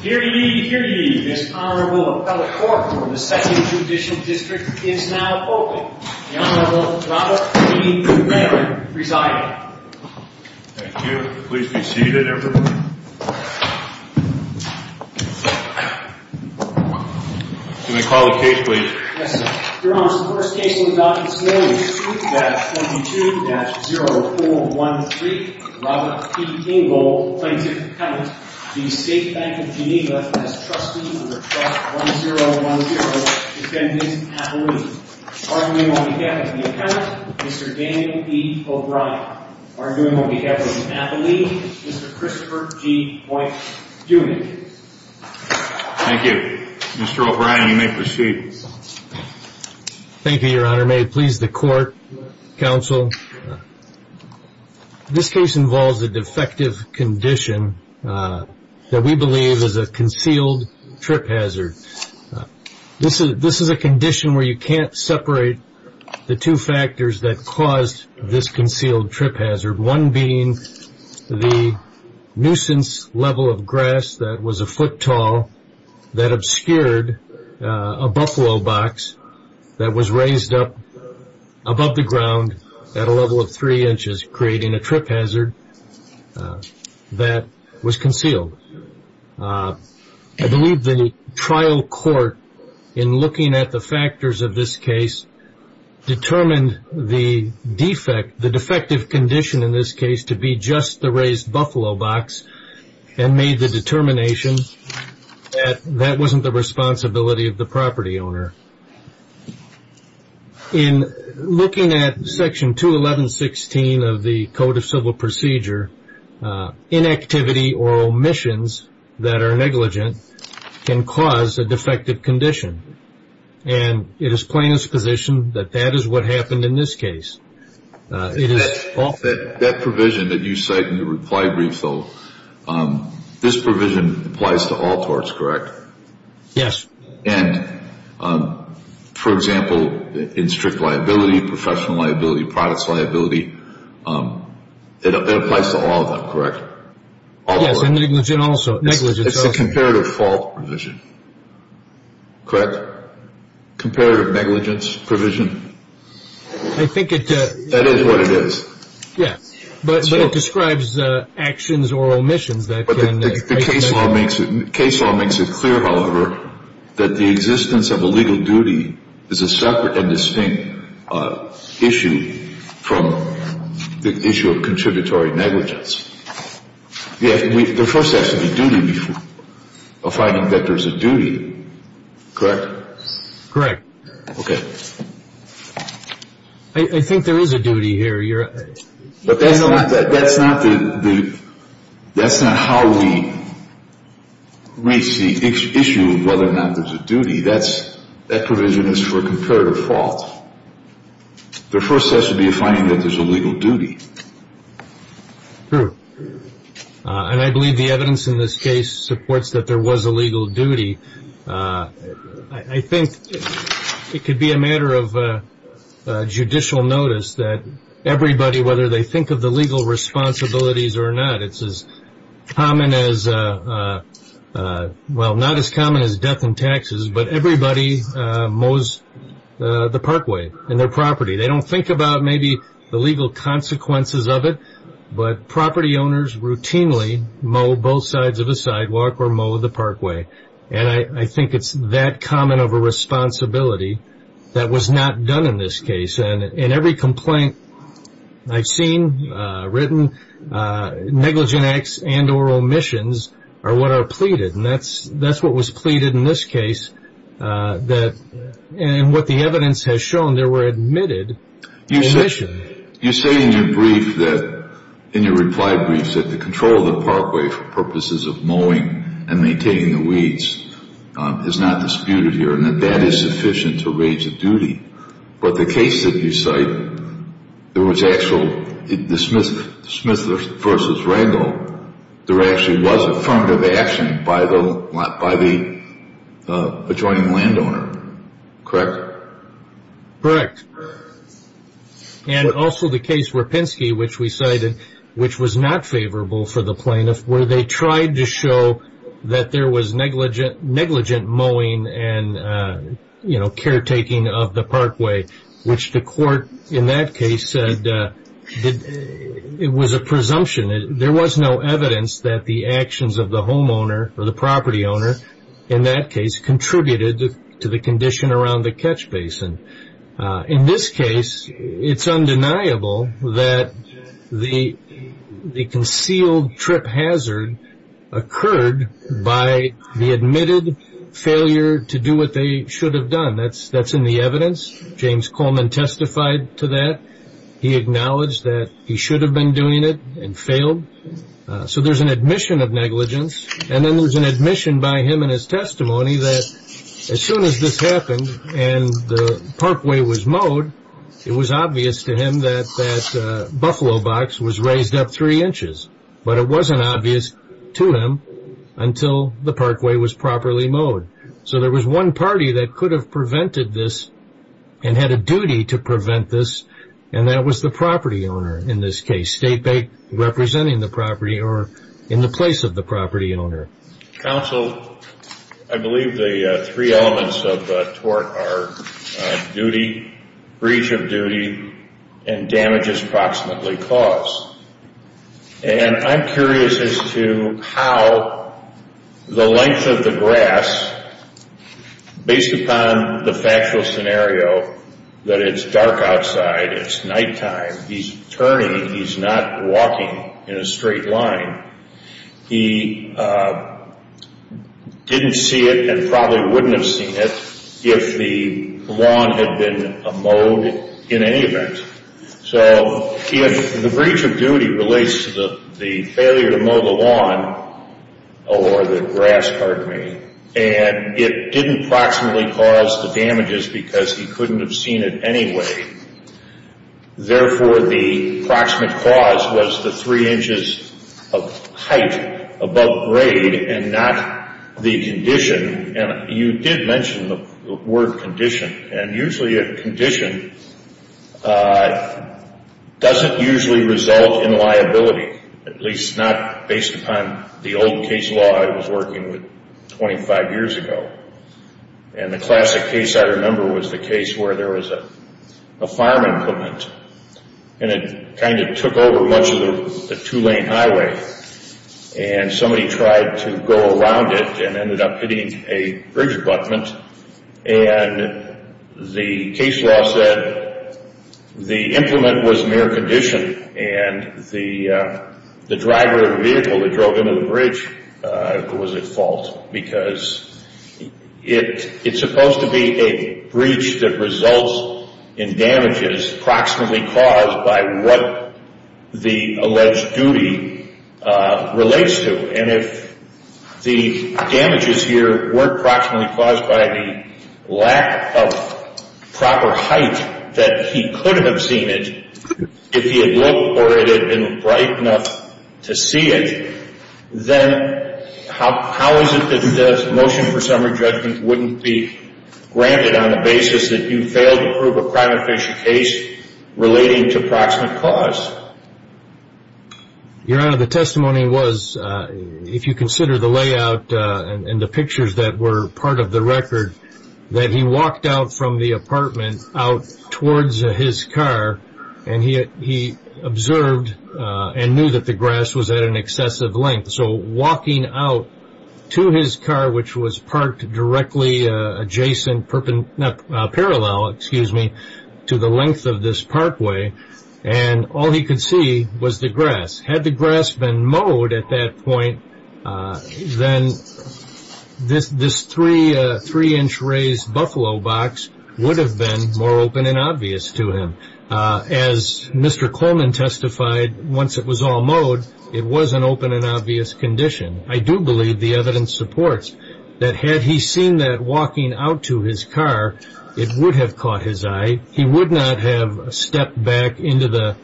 Hear ye, hear ye, this Honorable Appellate Court for the 2nd Judicial District is now open. The Honorable Robert P. Rennerin presiding. Thank you. Please be seated, everyone. Can I call the case, please? Yes, sir. Your Honor, the first case we would like to consider is Suite-22-0413, in which Robert P. Ingold, plaintiff's appellant, v. State Bank of Geneva, has trusted the request 1010 to send his appellee. Arguing on behalf of the appellant, Mr. Daniel E. O'Brien. Arguing on behalf of the appellee, Mr. Christopher G. Boynt Dunick. Thank you. Mr. O'Brien, you may proceed. Thank you, Your Honor. May it please the Court, Counsel. This case involves a defective condition that we believe is a concealed trip hazard. This is a condition where you can't separate the two factors that caused this concealed trip hazard. One being the nuisance level of grass that was a foot tall that obscured a buffalo box that was raised up above the ground at a level of three inches, creating a trip hazard that was concealed. I believe the trial court, in looking at the factors of this case, determined the defective condition in this case to be just the raised buffalo box and made the determination that that wasn't the responsibility of the property owner. In looking at Section 211.16 of the Code of Civil Procedure, inactivity or omissions that are negligent can cause a defective condition. And it is plain as position that that is what happened in this case. That provision that you cite in your reply brief, though, this provision applies to all torts, correct? Yes. And, for example, in strict liability, professional liability, products liability, it applies to all of them, correct? Yes, and negligent also. It's a comparative fault provision, correct? Comparative negligence provision? I think it – That is what it is. Yes, but it describes actions or omissions that can – The case law makes it clear, however, that the existence of a legal duty is a separate and distinct issue from the issue of contributory negligence. The first has to be duty, a finding that there's a duty, correct? Correct. Okay. I think there is a duty here. But that's not how we reach the issue of whether or not there's a duty. That provision is for comparative fault. The first has to be a finding that there's a legal duty. True. And I believe the evidence in this case supports that there was a legal duty. I think it could be a matter of judicial notice that everybody, whether they think of the legal responsibilities or not, it's as common as – well, not as common as death and taxes, but everybody mows the parkway and their property. They don't think about maybe the legal consequences of it, but property owners routinely mow both sides of the sidewalk or mow the parkway. And I think it's that common of a responsibility that was not done in this case. And every complaint I've seen written, negligent acts and or omissions are what are pleaded, and that's what was pleaded in this case. And what the evidence has shown, there were admitted omissions. You say in your brief that, in your reply brief, that the control of the parkway for purposes of mowing and maintaining the weeds is not disputed here and that that is sufficient to raise a duty. But the case that you cite, there was actual – the Smith v. Ragland, there actually was affirmative action by the adjoining landowner, correct? Correct. And also the case Rapinski, which we cited, which was not favorable for the plaintiff, where they tried to show that there was negligent mowing and caretaking of the parkway, which the court in that case said it was a presumption. There was no evidence that the actions of the homeowner or the property owner in that case contributed to the condition around the catch basin. In this case, it's undeniable that the concealed trip hazard occurred by the admitted failure to do what they should have done. That's in the evidence. James Coleman testified to that. He acknowledged that he should have been doing it and failed. So there's an admission of negligence, and then there's an admission by him in his testimony that as soon as this happened and the parkway was mowed, it was obvious to him that that buffalo box was raised up three inches. But it wasn't obvious to him until the parkway was properly mowed. So there was one party that could have prevented this and had a duty to prevent this, and that was the property owner in this case, state representing the property or in the place of the property owner. Counsel, I believe the three elements of tort are duty, breach of duty, and damages approximately caused. And I'm curious as to how the length of the grass, based upon the factual scenario that it's dark outside, it's nighttime, he's turning, he's not walking in a straight line. He didn't see it and probably wouldn't have seen it if the lawn had been mowed in any event. So the breach of duty relates to the failure to mow the lawn or the grass, pardon me, and it didn't approximately cause the damages because he couldn't have seen it anyway. Therefore, the approximate cause was the three inches of height above grade and not the condition. And you did mention the word condition. And usually a condition doesn't usually result in liability, at least not based upon the old case law I was working with 25 years ago. And the classic case I remember was the case where there was a farm implement and it kind of took over much of the two-lane highway. And somebody tried to go around it and ended up hitting a bridge abutment. And the case law said the implement was mere condition and the driver of the vehicle that drove into the bridge was at fault because it's supposed to be a breach that results in damages approximately caused by what the alleged duty relates to. And if the damages here weren't approximately caused by the lack of proper height that he could have seen it if he had looked or it had been bright enough to see it, then how is it that the motion for summary judgment wouldn't be granted on the basis that you failed to prove a crime-official case relating to approximate cause? Your Honor, the testimony was, if you consider the layout and the pictures that were part of the record, that he walked out from the apartment out towards his car and he observed and knew that the grass was at an excessive length. So walking out to his car, which was parked directly adjacent, parallel, excuse me, to the length of this parkway and all he could see was the grass. Had the grass been mowed at that point, then this three-inch raised buffalo box would have been more open and obvious to him. As Mr. Coleman testified, once it was all mowed, it was an open and obvious condition. I do believe the evidence supports that had he seen that walking out to his car, it would have caught his eye. He would not have stepped back into the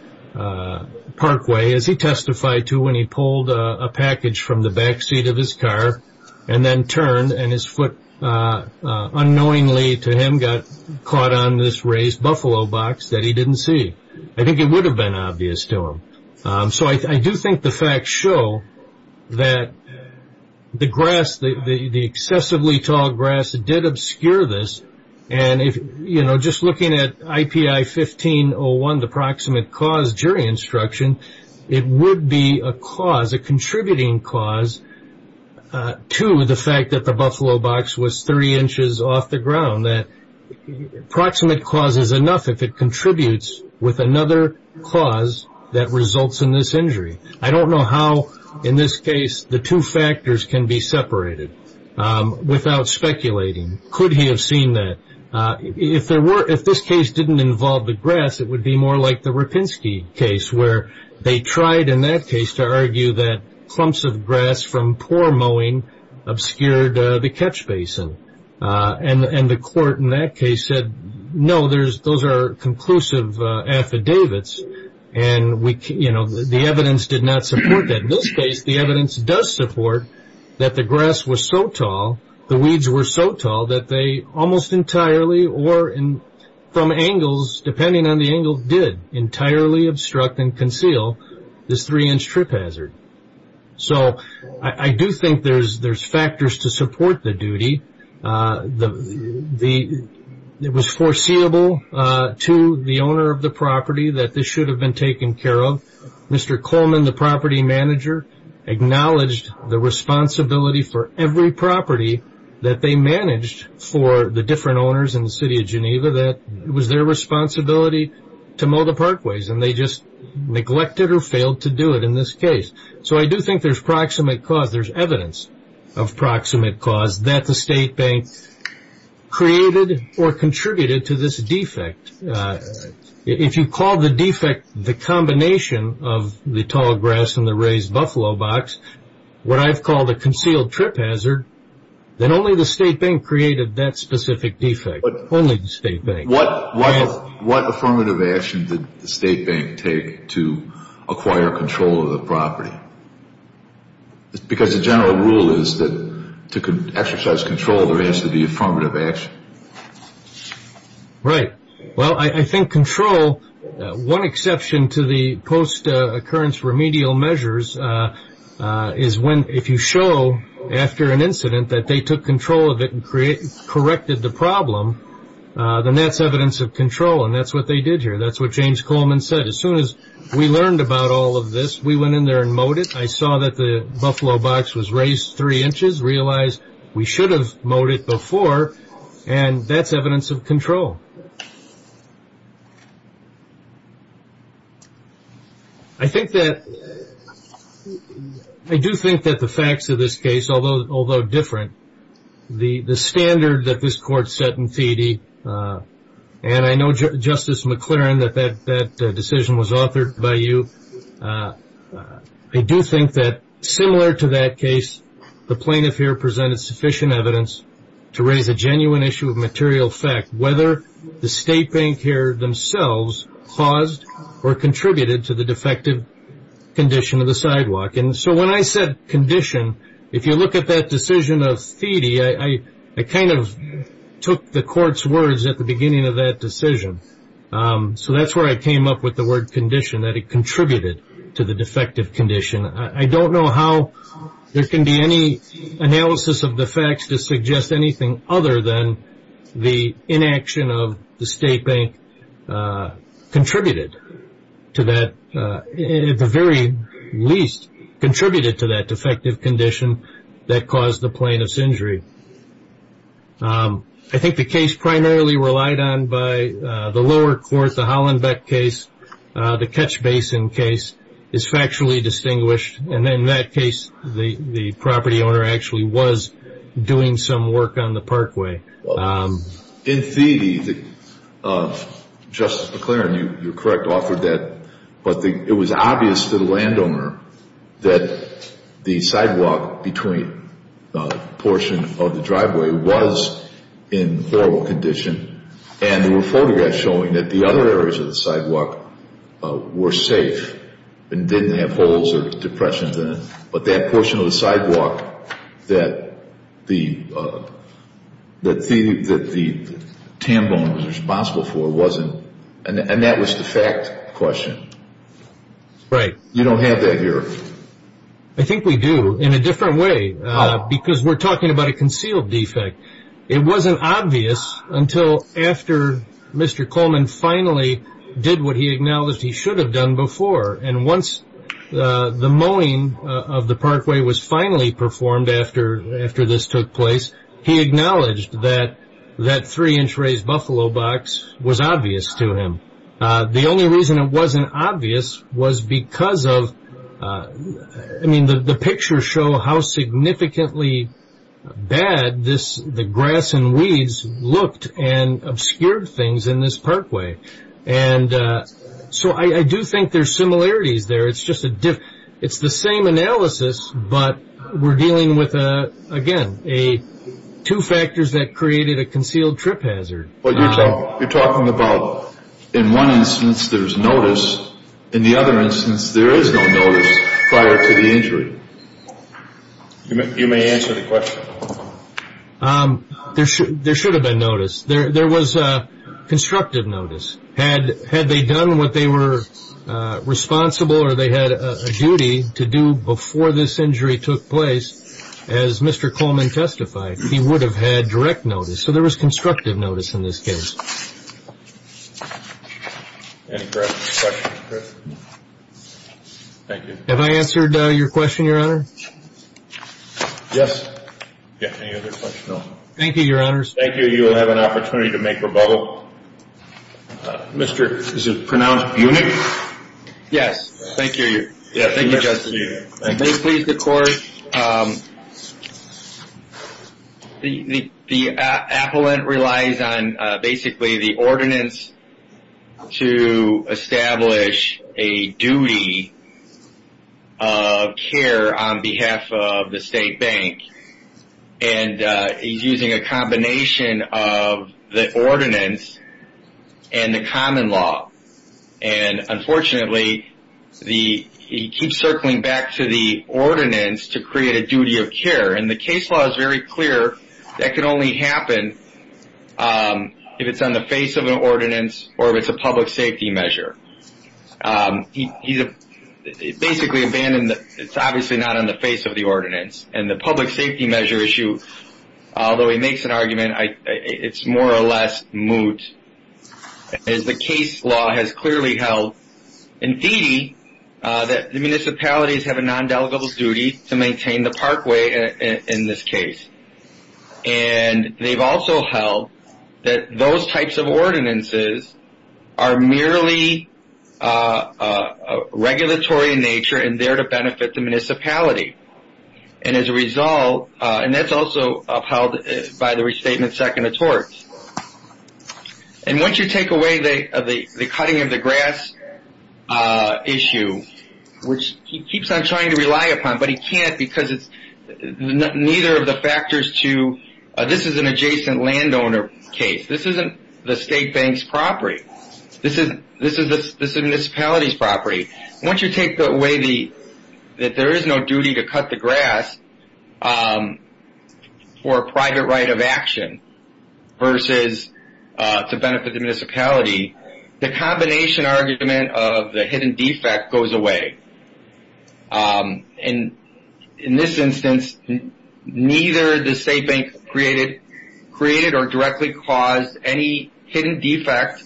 parkway, as he testified to when he pulled a package from the backseat of his car and then turned and his foot unknowingly to him got caught on this raised buffalo box that he didn't see. I think it would have been obvious to him. So I do think the facts show that the grass, the excessively tall grass, did obscure this. Just looking at IPI 1501, the proximate cause jury instruction, it would be a contributing cause to the fact that the buffalo box was three inches off the ground. Proximate cause is enough if it contributes with another cause that results in this injury. I don't know how, in this case, the two factors can be separated without speculating. Could he have seen that? If this case didn't involve the grass, it would be more like the Rapinski case, where they tried in that case to argue that clumps of grass from poor mowing obscured the catch basin. And the court in that case said, no, those are conclusive affidavits, and the evidence did not support that. In this case, the evidence does support that the grass was so tall, the weeds were so tall, that they almost entirely, or from angles, depending on the angles, did entirely obstruct and conceal this three-inch trip hazard. So I do think there's factors to support the duty. It was foreseeable to the owner of the property that this should have been taken care of. Mr. Coleman, the property manager, acknowledged the responsibility for every property that they managed for the different owners in the city of Geneva, that it was their responsibility to mow the parkways, and they just neglected or failed to do it in this case. So I do think there's proximate cause. There's evidence of proximate cause that the state bank created or contributed to this defect. If you call the defect the combination of the tall grass and the raised buffalo box, what I've called a concealed trip hazard, then only the state bank created that specific defect. Only the state bank. What affirmative action did the state bank take to acquire control of the property? Because the general rule is that to exercise control, there has to be affirmative action. Right. Well, I think control, one exception to the post-occurrence remedial measures, is if you show after an incident that they took control of it and corrected the problem, then that's evidence of control, and that's what they did here. That's what James Coleman said. As soon as we learned about all of this, we went in there and mowed it. I saw that the buffalo box was raised three inches, realized we should have mowed it before, and that's evidence of control. I do think that the facts of this case, although different, the standard that this court set in Feedy, and I know, Justice McLaren, that that decision was authored by you. I do think that similar to that case, the plaintiff here presented sufficient evidence to raise a genuine issue of material fact, whether the state bank here themselves caused or contributed to the defective condition of the sidewalk. So when I said condition, if you look at that decision of Feedy, I kind of took the court's words at the beginning of that decision. So that's where I came up with the word condition, that it contributed to the defective condition. I don't know how there can be any analysis of the facts to suggest anything other than the inaction of the state bank contributed to that, at the very least, contributed to that defective condition that caused the plaintiff's injury. Thank you. I think the case primarily relied on by the lower court, the Hollenbeck case, the Ketch Basin case is factually distinguished, and in that case the property owner actually was doing some work on the parkway. In Feedy, Justice McLaren, you're correct, authored that, but it was obvious to the landowner that the sidewalk between a portion of the driveway was in horrible condition, and there were photographs showing that the other areas of the sidewalk were safe and didn't have holes or depressions in it, but that portion of the sidewalk that the tambone was responsible for wasn't, and that was the fact question. Right. You don't have that here. I think we do, in a different way, because we're talking about a concealed defect. It wasn't obvious until after Mr. Coleman finally did what he acknowledged he should have done before, and once the mowing of the parkway was finally performed after this took place, he acknowledged that that three-inch raised buffalo box was obvious to him. The only reason it wasn't obvious was because of, I mean, the pictures show how significantly bad the grass and weeds looked and obscured things in this parkway, and so I do think there's similarities there. It's the same analysis, but we're dealing with, again, two factors that created a concealed trip hazard. You're talking about, in one instance, there's notice. In the other instance, there is no notice prior to the injury. You may answer the question. There should have been notice. There was constructive notice. Had they done what they were responsible or they had a duty to do before this injury took place, as Mr. Coleman testified, he would have had direct notice. So there was constructive notice in this case. Any questions, Chris? Thank you. Have I answered your question, Your Honor? Yes. Any other questions? No. Thank you, Your Honors. Thank you. You will have an opportunity to make rebuttal. Mr. is it pronounced Buhnik? Yes. Thank you, Your Honor. Thank you, Justice. May it please the Court. The appellant relies on basically the ordinance to establish a duty of care on behalf of the state bank, and he's using a combination of the ordinance and the common law. And, unfortunately, he keeps circling back to the ordinance to create a duty of care. And the case law is very clear that can only happen if it's on the face of an ordinance or if it's a public safety measure. He basically abandoned the – it's obviously not on the face of the ordinance. And the public safety measure issue, although he makes an argument, it's more or less moot. As the case law has clearly held, indeed, that the municipalities have a non-delegable duty to maintain the parkway in this case. And they've also held that those types of ordinances are merely regulatory in nature and there to benefit the municipality. And as a result – and that's also upheld by the Restatement Second of Torts. And once you take away the cutting of the grass issue, which he keeps on trying to rely upon, but he can't because it's – neither of the factors to – this is an adjacent landowner case. This isn't the state bank's property. This is the municipality's property. Once you take away the – that there is no duty to cut the grass for a private right of action versus to benefit the municipality, the combination argument of the hidden defect goes away. And in this instance, neither the state bank created or directly caused any hidden defects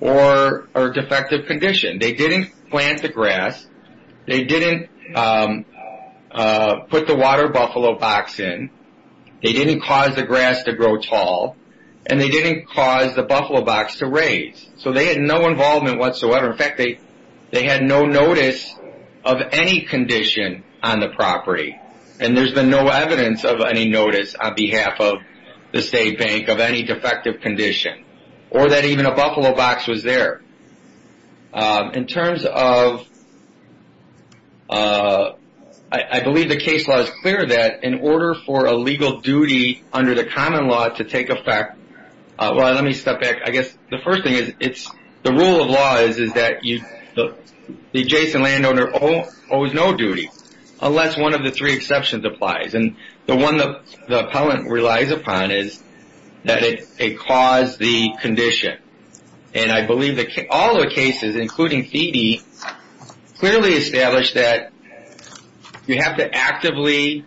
or defective condition. They didn't plant the grass. They didn't put the water buffalo box in. They didn't cause the grass to grow tall. And they didn't cause the buffalo box to raise. So they had no involvement whatsoever. In fact, they had no notice of any condition on the property. And there's been no evidence of any notice on behalf of the state bank of any defective condition or that even a buffalo box was there. In terms of – I believe the case law is clear that in order for a legal duty under the common law to take effect – well, let me step back. I guess the first thing is it's – the rule of law is that the adjacent landowner owes no duty unless one of the three exceptions applies. And the one the appellant relies upon is that it caused the condition. And I believe that all the cases, including Thede, clearly establish that you have to actively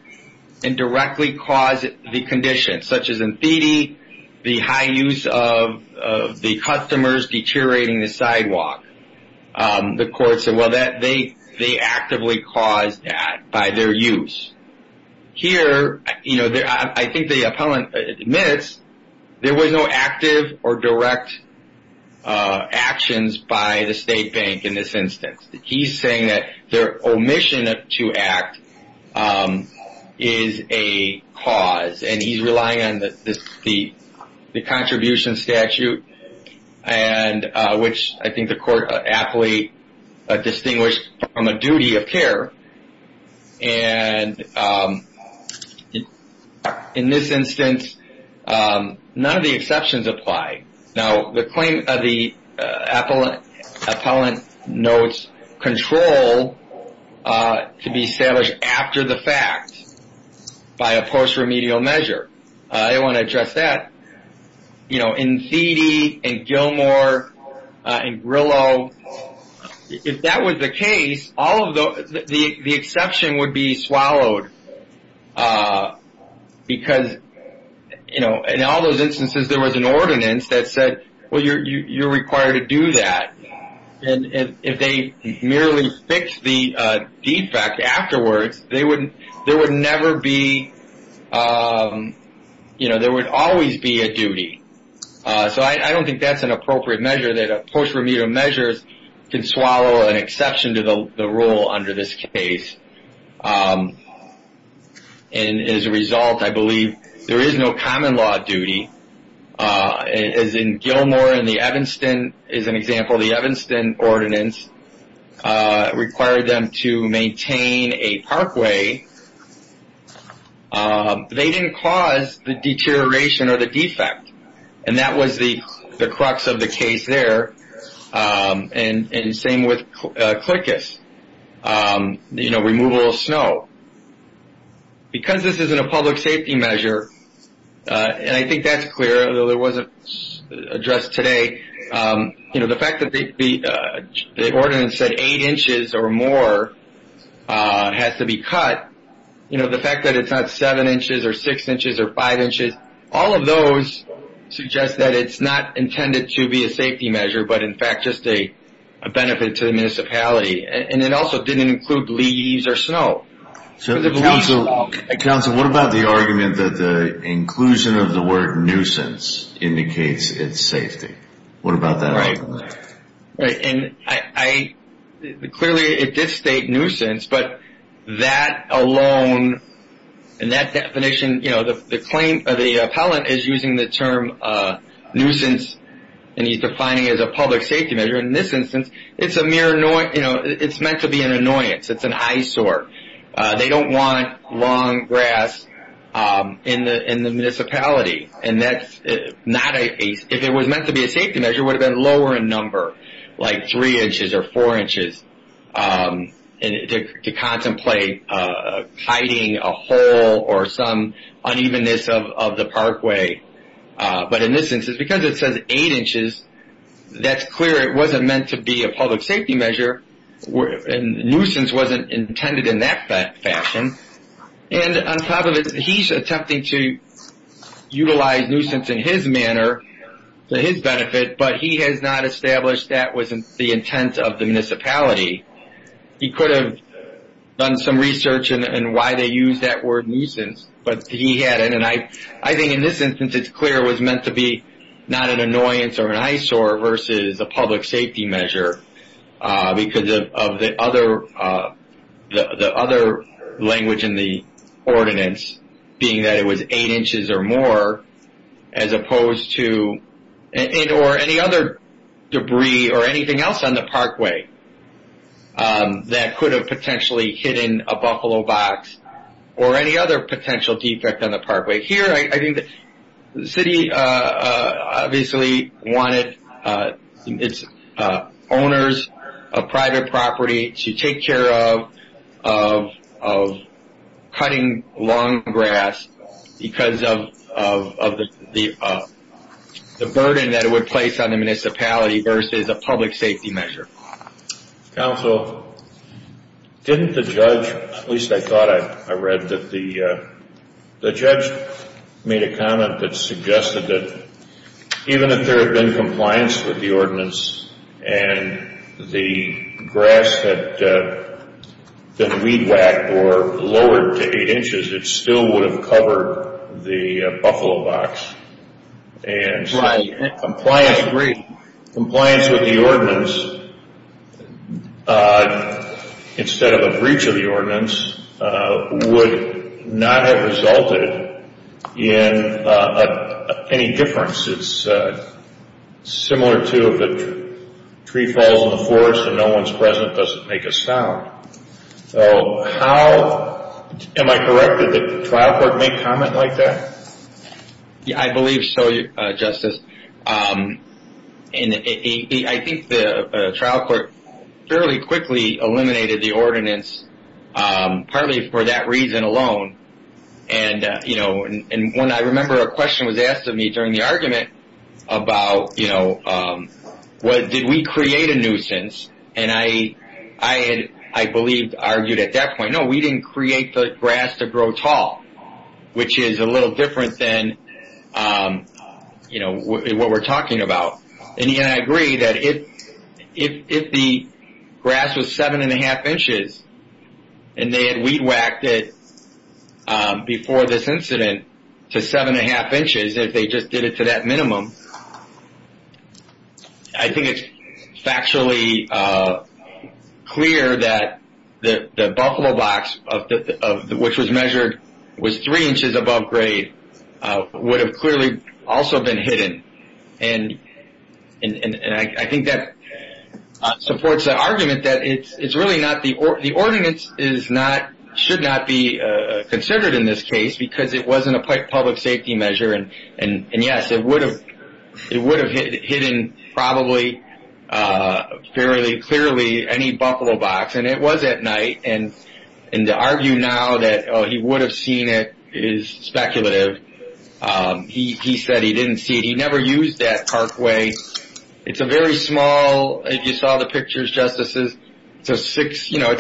and directly cause the condition, such as in Thede, the high use of the customers deteriorating the sidewalk. The court said, well, they actively caused that by their use. Here, I think the appellant admits there was no active or direct actions by the state bank in this instance. He's saying that their omission to act is a cause. And he's relying on the contribution statute, which I think the court aptly distinguished from a duty of care. And in this instance, none of the exceptions apply. Now, the claim of the appellant notes control to be established after the fact by a post-remedial measure. I want to address that. You know, in Thede, in Gilmore, in Grillo, if that was the case, all of the – the exception would be swallowed. Because, you know, in all those instances, there was an ordinance that said, well, you're required to do that. And if they merely fixed the defect afterwards, there would never be – you know, there would always be a duty. So I don't think that's an appropriate measure that a post-remedial measure can swallow an exception to the rule under this case. And as a result, I believe there is no common law duty. As in Gilmore and the Evanston is an example, the Evanston ordinance required them to maintain a parkway. They didn't cause the deterioration or the defect. And that was the crux of the case there. And same with Clicus, you know, removal of snow. Because this isn't a public safety measure, and I think that's clear, although it wasn't addressed today, you know, the fact that the ordinance said eight inches or more has to be cut, you know, the fact that it's not seven inches or six inches or five inches, all of those suggest that it's not intended to be a safety measure, but in fact just a benefit to the municipality. And it also didn't include leaves or snow. So counsel, what about the argument that the inclusion of the word nuisance indicates its safety? What about that argument? Right. And I – clearly it did state nuisance, but that alone and that definition, you know, the claim of the appellant is using the term nuisance and he's defining it as a public safety measure. In this instance, it's a mere – you know, it's meant to be an annoyance. It's an eyesore. They don't want long grass in the municipality. And that's not a – if it was meant to be a safety measure, it would have been lower in number, like three inches or four inches to contemplate hiding a hole or some unevenness of the parkway. But in this instance, because it says eight inches, that's clear it wasn't meant to be a public safety measure and nuisance wasn't intended in that fashion. And on top of it, he's attempting to utilize nuisance in his manner to his benefit, but he has not established that was the intent of the municipality. He could have done some research in why they use that word nuisance, but he hadn't. And I think in this instance, it's clear it was meant to be not an annoyance or an eyesore versus a public safety measure because of the other language in the ordinance, being that it was eight inches or more as opposed to – or any other debris or anything else on the parkway that could have potentially hidden a buffalo box or any other potential defect on the parkway. Here, I think the city obviously wanted its owners of private property to take care of cutting lawn grass because of the burden that it would place on the municipality versus a public safety measure. Counsel, didn't the judge – at least I thought I read that the judge made a comment that suggested that even if there had been compliance with the ordinance and the grass had been weed whacked or lowered to eight inches, it still would have covered the buffalo box. Compliance is great. Instead of a breach of the ordinance would not have resulted in any difference. It's similar to if a tree falls in the forest and no one's present, it doesn't make a sound. So how – am I correct that the trial court made a comment like that? Yeah, I believe so, Justice. I think the trial court fairly quickly eliminated the ordinance partly for that reason alone. And when I remember a question was asked of me during the argument about did we create a nuisance, and I had, I believe, argued at that point, no, we didn't create the grass to grow tall, which is a little different than, you know, what we're talking about. And, again, I agree that if the grass was seven and a half inches and they had weed whacked it before this incident to seven and a half inches, if they just did it to that minimum, I think it's factually clear that the buffalo box, which was measured, was three inches above grade, would have clearly also been hidden. And I think that supports the argument that it's really not – the ordinance is not – should not be considered in this case because it wasn't a public safety measure. And, yes, it would have hidden probably fairly clearly any buffalo box. And it was at night. And to argue now that he would have seen it is speculative. He said he didn't see it. He never used that parkway. It's a very small – if you saw the pictures, Justices, it's a six – Could the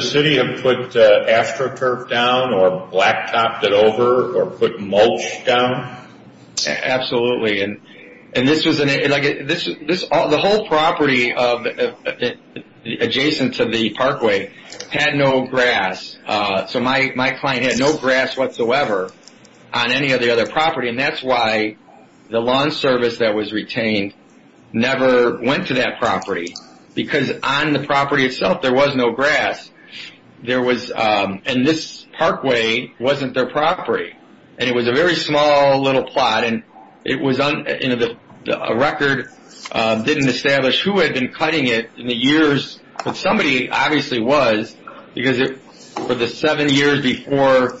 city have put AstroTurf down or black topped it over or put mulch down? Absolutely. And this was – the whole property adjacent to the parkway had no grass. So my client had no grass whatsoever on any of the other property. And that's why the lawn service that was retained never went to that property because on the property itself there was no grass. There was – and this parkway wasn't their property. And it was a very small little plot. And it was – a record didn't establish who had been cutting it in the years. But somebody obviously was because for the seven years before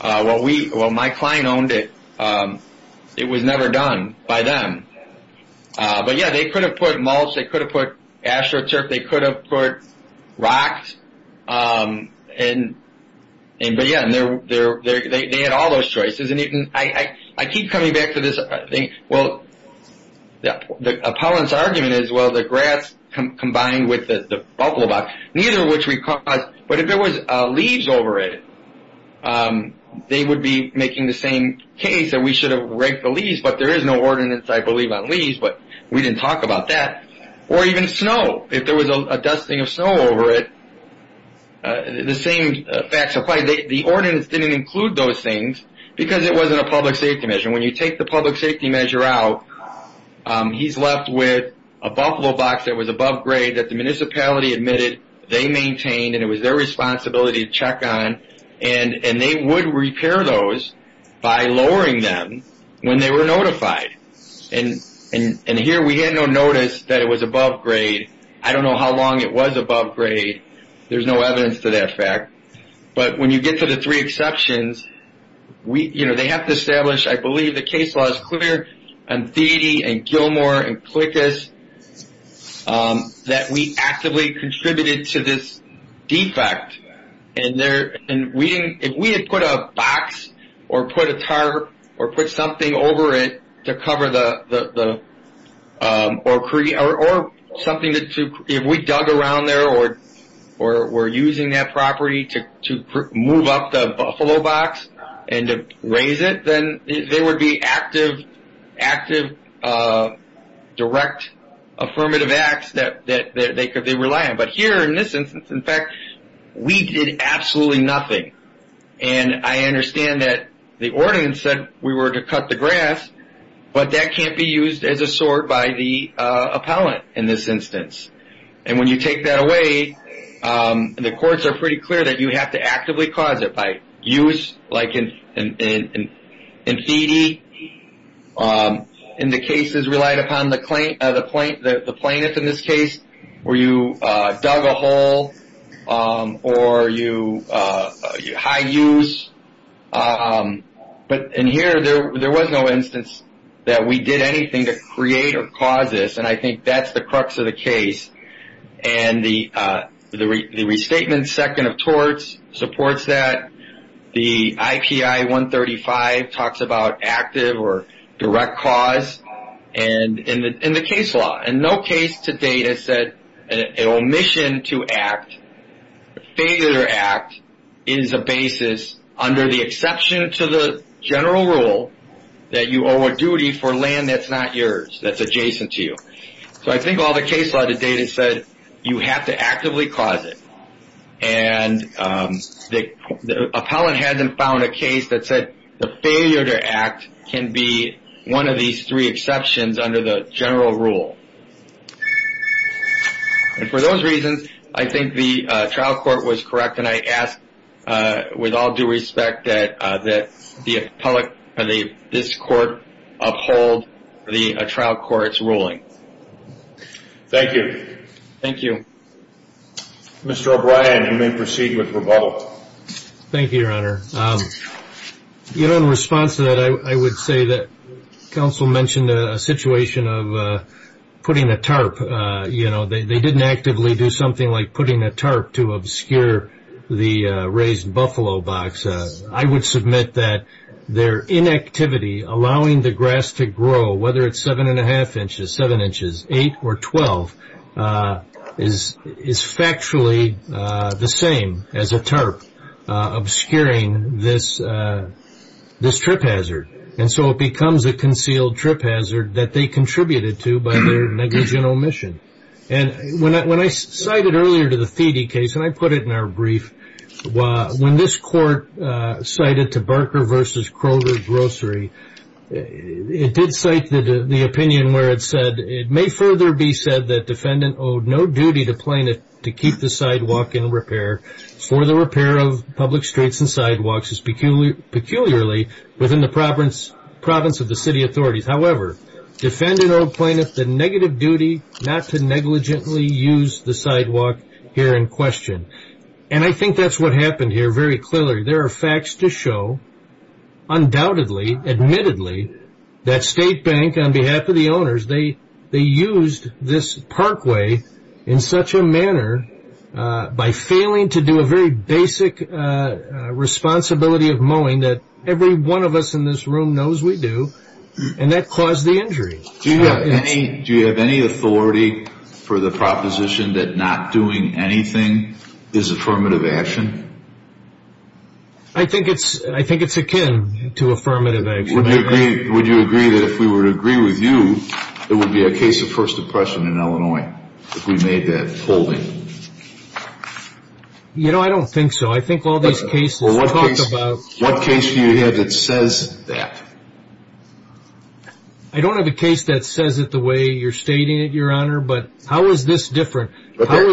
what we – when my client owned it, it was never done by them. But, yes, they could have put mulch. They could have put AstroTurf. They could have put rocks. But, yes, they had all those choices. And I keep coming back to this. Well, the opponent's argument is, well, the grass combined with the buckle box, neither of which we caused. But if there was leaves over it, they would be making the same case that we should have raked the leaves. But there is no ordinance, I believe, on leaves. But we didn't talk about that. Or even snow. If there was a dusting of snow over it, the same facts apply. The ordinance didn't include those things because it wasn't a public safety measure. And when you take the public safety measure out, he's left with a buckle box that was above grade that the municipality admitted they maintained and it was their responsibility to check on. And they would repair those by lowering them when they were notified. And here we had no notice that it was above grade. I don't know how long it was above grade. There's no evidence to that fact. But when you get to the three exceptions, they have to establish, I believe the case law is clear, and Thede and Gilmore and Klickus, that we actively contributed to this defect. And if we had put a box or put a tarp or put something over it to cover the or something that if we dug around there or were using that property to move up the buffalo box and to raise it, then there would be active, direct affirmative acts that they could rely on. But here in this instance, in fact, we did absolutely nothing. And I understand that the ordinance said we were to cut the grass, but that can't be used as a sword by the appellant in this instance. And when you take that away, the courts are pretty clear that you have to actively cause it by use, like in Thede. And the case is relied upon the plaintiff in this case, where you dug a hole or high use. But in here, there was no instance that we did anything to create or cause this, and I think that's the crux of the case. And the restatement second of torts supports that. The IPI-135 talks about active or direct cause in the case law. And no case to date has said an omission to act, failure to act, is a basis under the exception to the general rule that you owe a duty for land that's not yours, that's adjacent to you. So I think all the case law to date has said you have to actively cause it. And the appellant hasn't found a case that said the failure to act can be one of these three exceptions under the general rule. And for those reasons, I think the trial court was correct, and I ask with all due respect that this court uphold the trial court's ruling. Thank you. Thank you. Mr. O'Brien, you may proceed with rebuttal. Thank you, Your Honor. In response to that, I would say that counsel mentioned a situation of putting a tarp. They didn't actively do something like putting a tarp to obscure the raised buffalo box. I would submit that their inactivity allowing the grass to grow, whether it's 7-1⁄2 inches, 7 inches, 8 or 12, is factually the same as a tarp obscuring this trip hazard. And so it becomes a concealed trip hazard that they contributed to by their negligent omission. And when I cited earlier to the Thiede case, and I put it in our brief, when this court cited to Barker v. Kroger Grocery, it did cite the opinion where it said, it may further be said that defendant owed no duty to plaintiff to keep the sidewalk in repair for the repair of public streets and sidewalks, peculiarly within the province of the city authorities. However, defendant owed plaintiff the negative duty not to negligently use the sidewalk here in question. And I think that's what happened here very clearly. There are facts to show, undoubtedly, admittedly, that State Bank, on behalf of the owners, they used this parkway in such a manner by failing to do a very basic responsibility of mowing that every one of us in this room knows we do, and that caused the injury. Do you have any authority for the proposition that not doing anything is affirmative action? I think it's akin to affirmative action. Would you agree that if we were to agree with you, it would be a case of First Depression in Illinois, if we made that holding? You know, I don't think so. I think all these cases talked about. What case do you have that says that? I don't have a case that says it the way you're stating it, Your Honor, but how is this different? I'm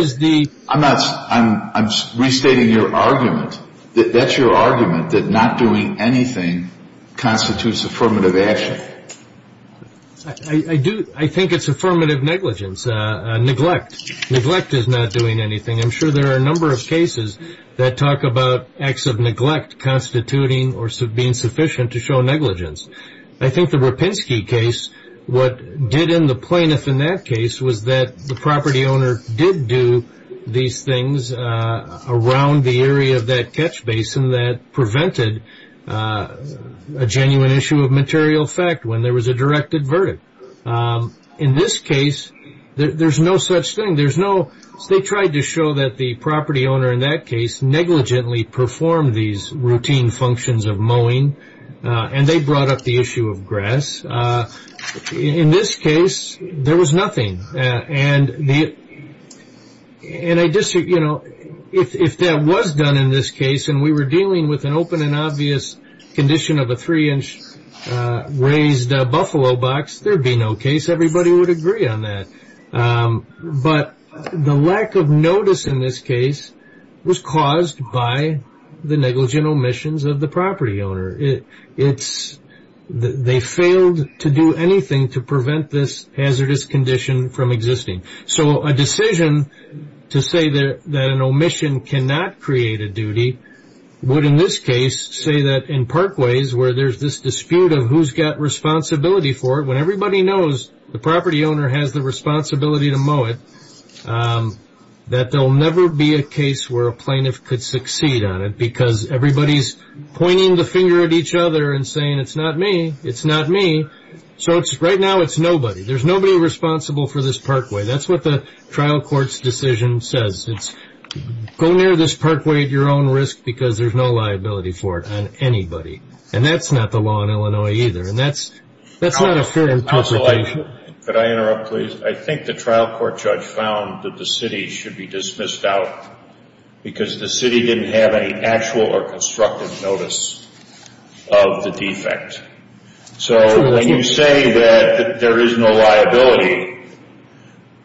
restating your argument. That's your argument, that not doing anything constitutes affirmative action. I think it's affirmative negligence, neglect. Neglect is not doing anything. I'm sure there are a number of cases that talk about acts of neglect constituting or being sufficient to show negligence. I think the Rapinski case, what did in the plaintiff in that case, was that the property owner did do these things around the area of that catch basin that prevented a genuine issue of material effect when there was a directed verdict. In this case, there's no such thing. They tried to show that the property owner in that case negligently performed these routine functions of mowing, and they brought up the issue of grass. In this case, there was nothing. And I just, you know, if that was done in this case and we were dealing with an open and obvious condition of a three-inch raised buffalo box, there would be no case everybody would agree on that. But the lack of notice in this case was caused by the negligent omissions of the property owner. They failed to do anything to prevent this hazardous condition from existing. So a decision to say that an omission cannot create a duty would, in this case, say that in parkways where there's this dispute of who's got responsibility for it, when everybody knows the property owner has the responsibility to mow it, that there'll never be a case where a plaintiff could succeed on it because everybody's pointing the finger at each other and saying, it's not me, it's not me. So right now it's nobody. There's nobody responsible for this parkway. That's what the trial court's decision says. It's go near this parkway at your own risk because there's no liability for it on anybody. And that's not the law in Illinois either. And that's not a fair interpretation. Could I interrupt, please? I think the trial court judge found that the city should be dismissed out because the city didn't have any actual or constructive notice of the defect. So when you say that there is no liability,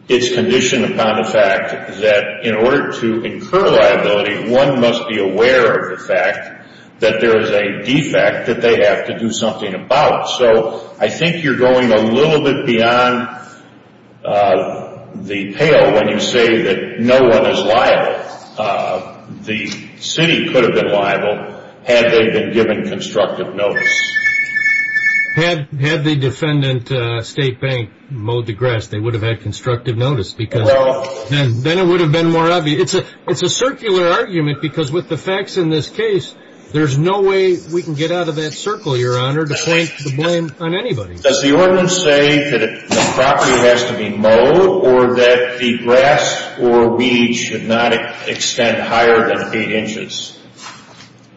it's conditioned upon the fact that in order to incur liability, one must be aware of the fact that there is a defect that they have to do something about. So I think you're going a little bit beyond the pale when you say that no one is liable. The city could have been liable had they been given constructive notice. Had the defendant, State Bank, mowed the grass, they would have had constructive notice because then it would have been more obvious. It's a circular argument because with the facts in this case, there's no way we can get out of that circle, Your Honor, to point the blame on anybody. Does the ordinance say that the property has to be mowed or that the grass or weed should not extend higher than 8 inches?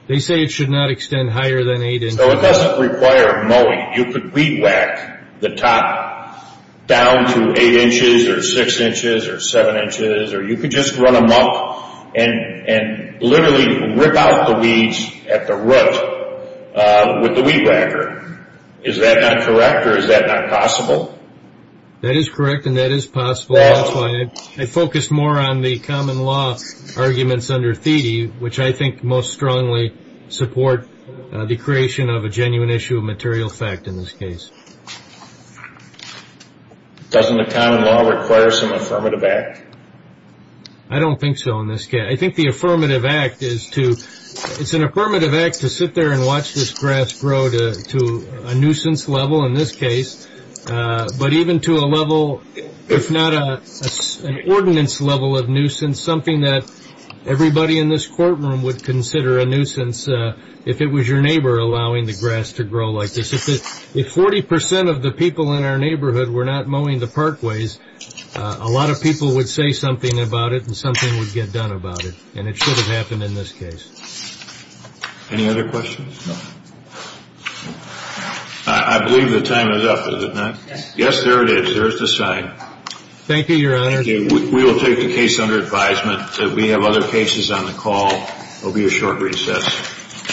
They say it should not extend higher than 8 inches. So it doesn't require mowing. You could weed whack the top down to 8 inches or 6 inches or 7 inches or you could just run a muck and literally rip out the weeds at the root with the weed whacker. Is that not correct or is that not possible? That is correct and that is possible. That's why I focused more on the common law arguments under Thiede, which I think most strongly support the creation of a genuine issue of material fact in this case. Doesn't the common law require some affirmative act? I don't think so in this case. I think the affirmative act is to sit there and watch this grass grow to a nuisance level in this case, but even to a level, if not an ordinance level of nuisance, something that everybody in this courtroom would consider a nuisance if it was your neighbor allowing the grass to grow like this. If 40% of the people in our neighborhood were not mowing the parkways, a lot of people would say something about it and something would get done about it, and it should have happened in this case. Any other questions? No. I believe the time is up, is it not? Yes. Yes, there it is. There is the sign. Thank you, Your Honor. We will take the case under advisement. We have other cases on the call. It will be a short recess.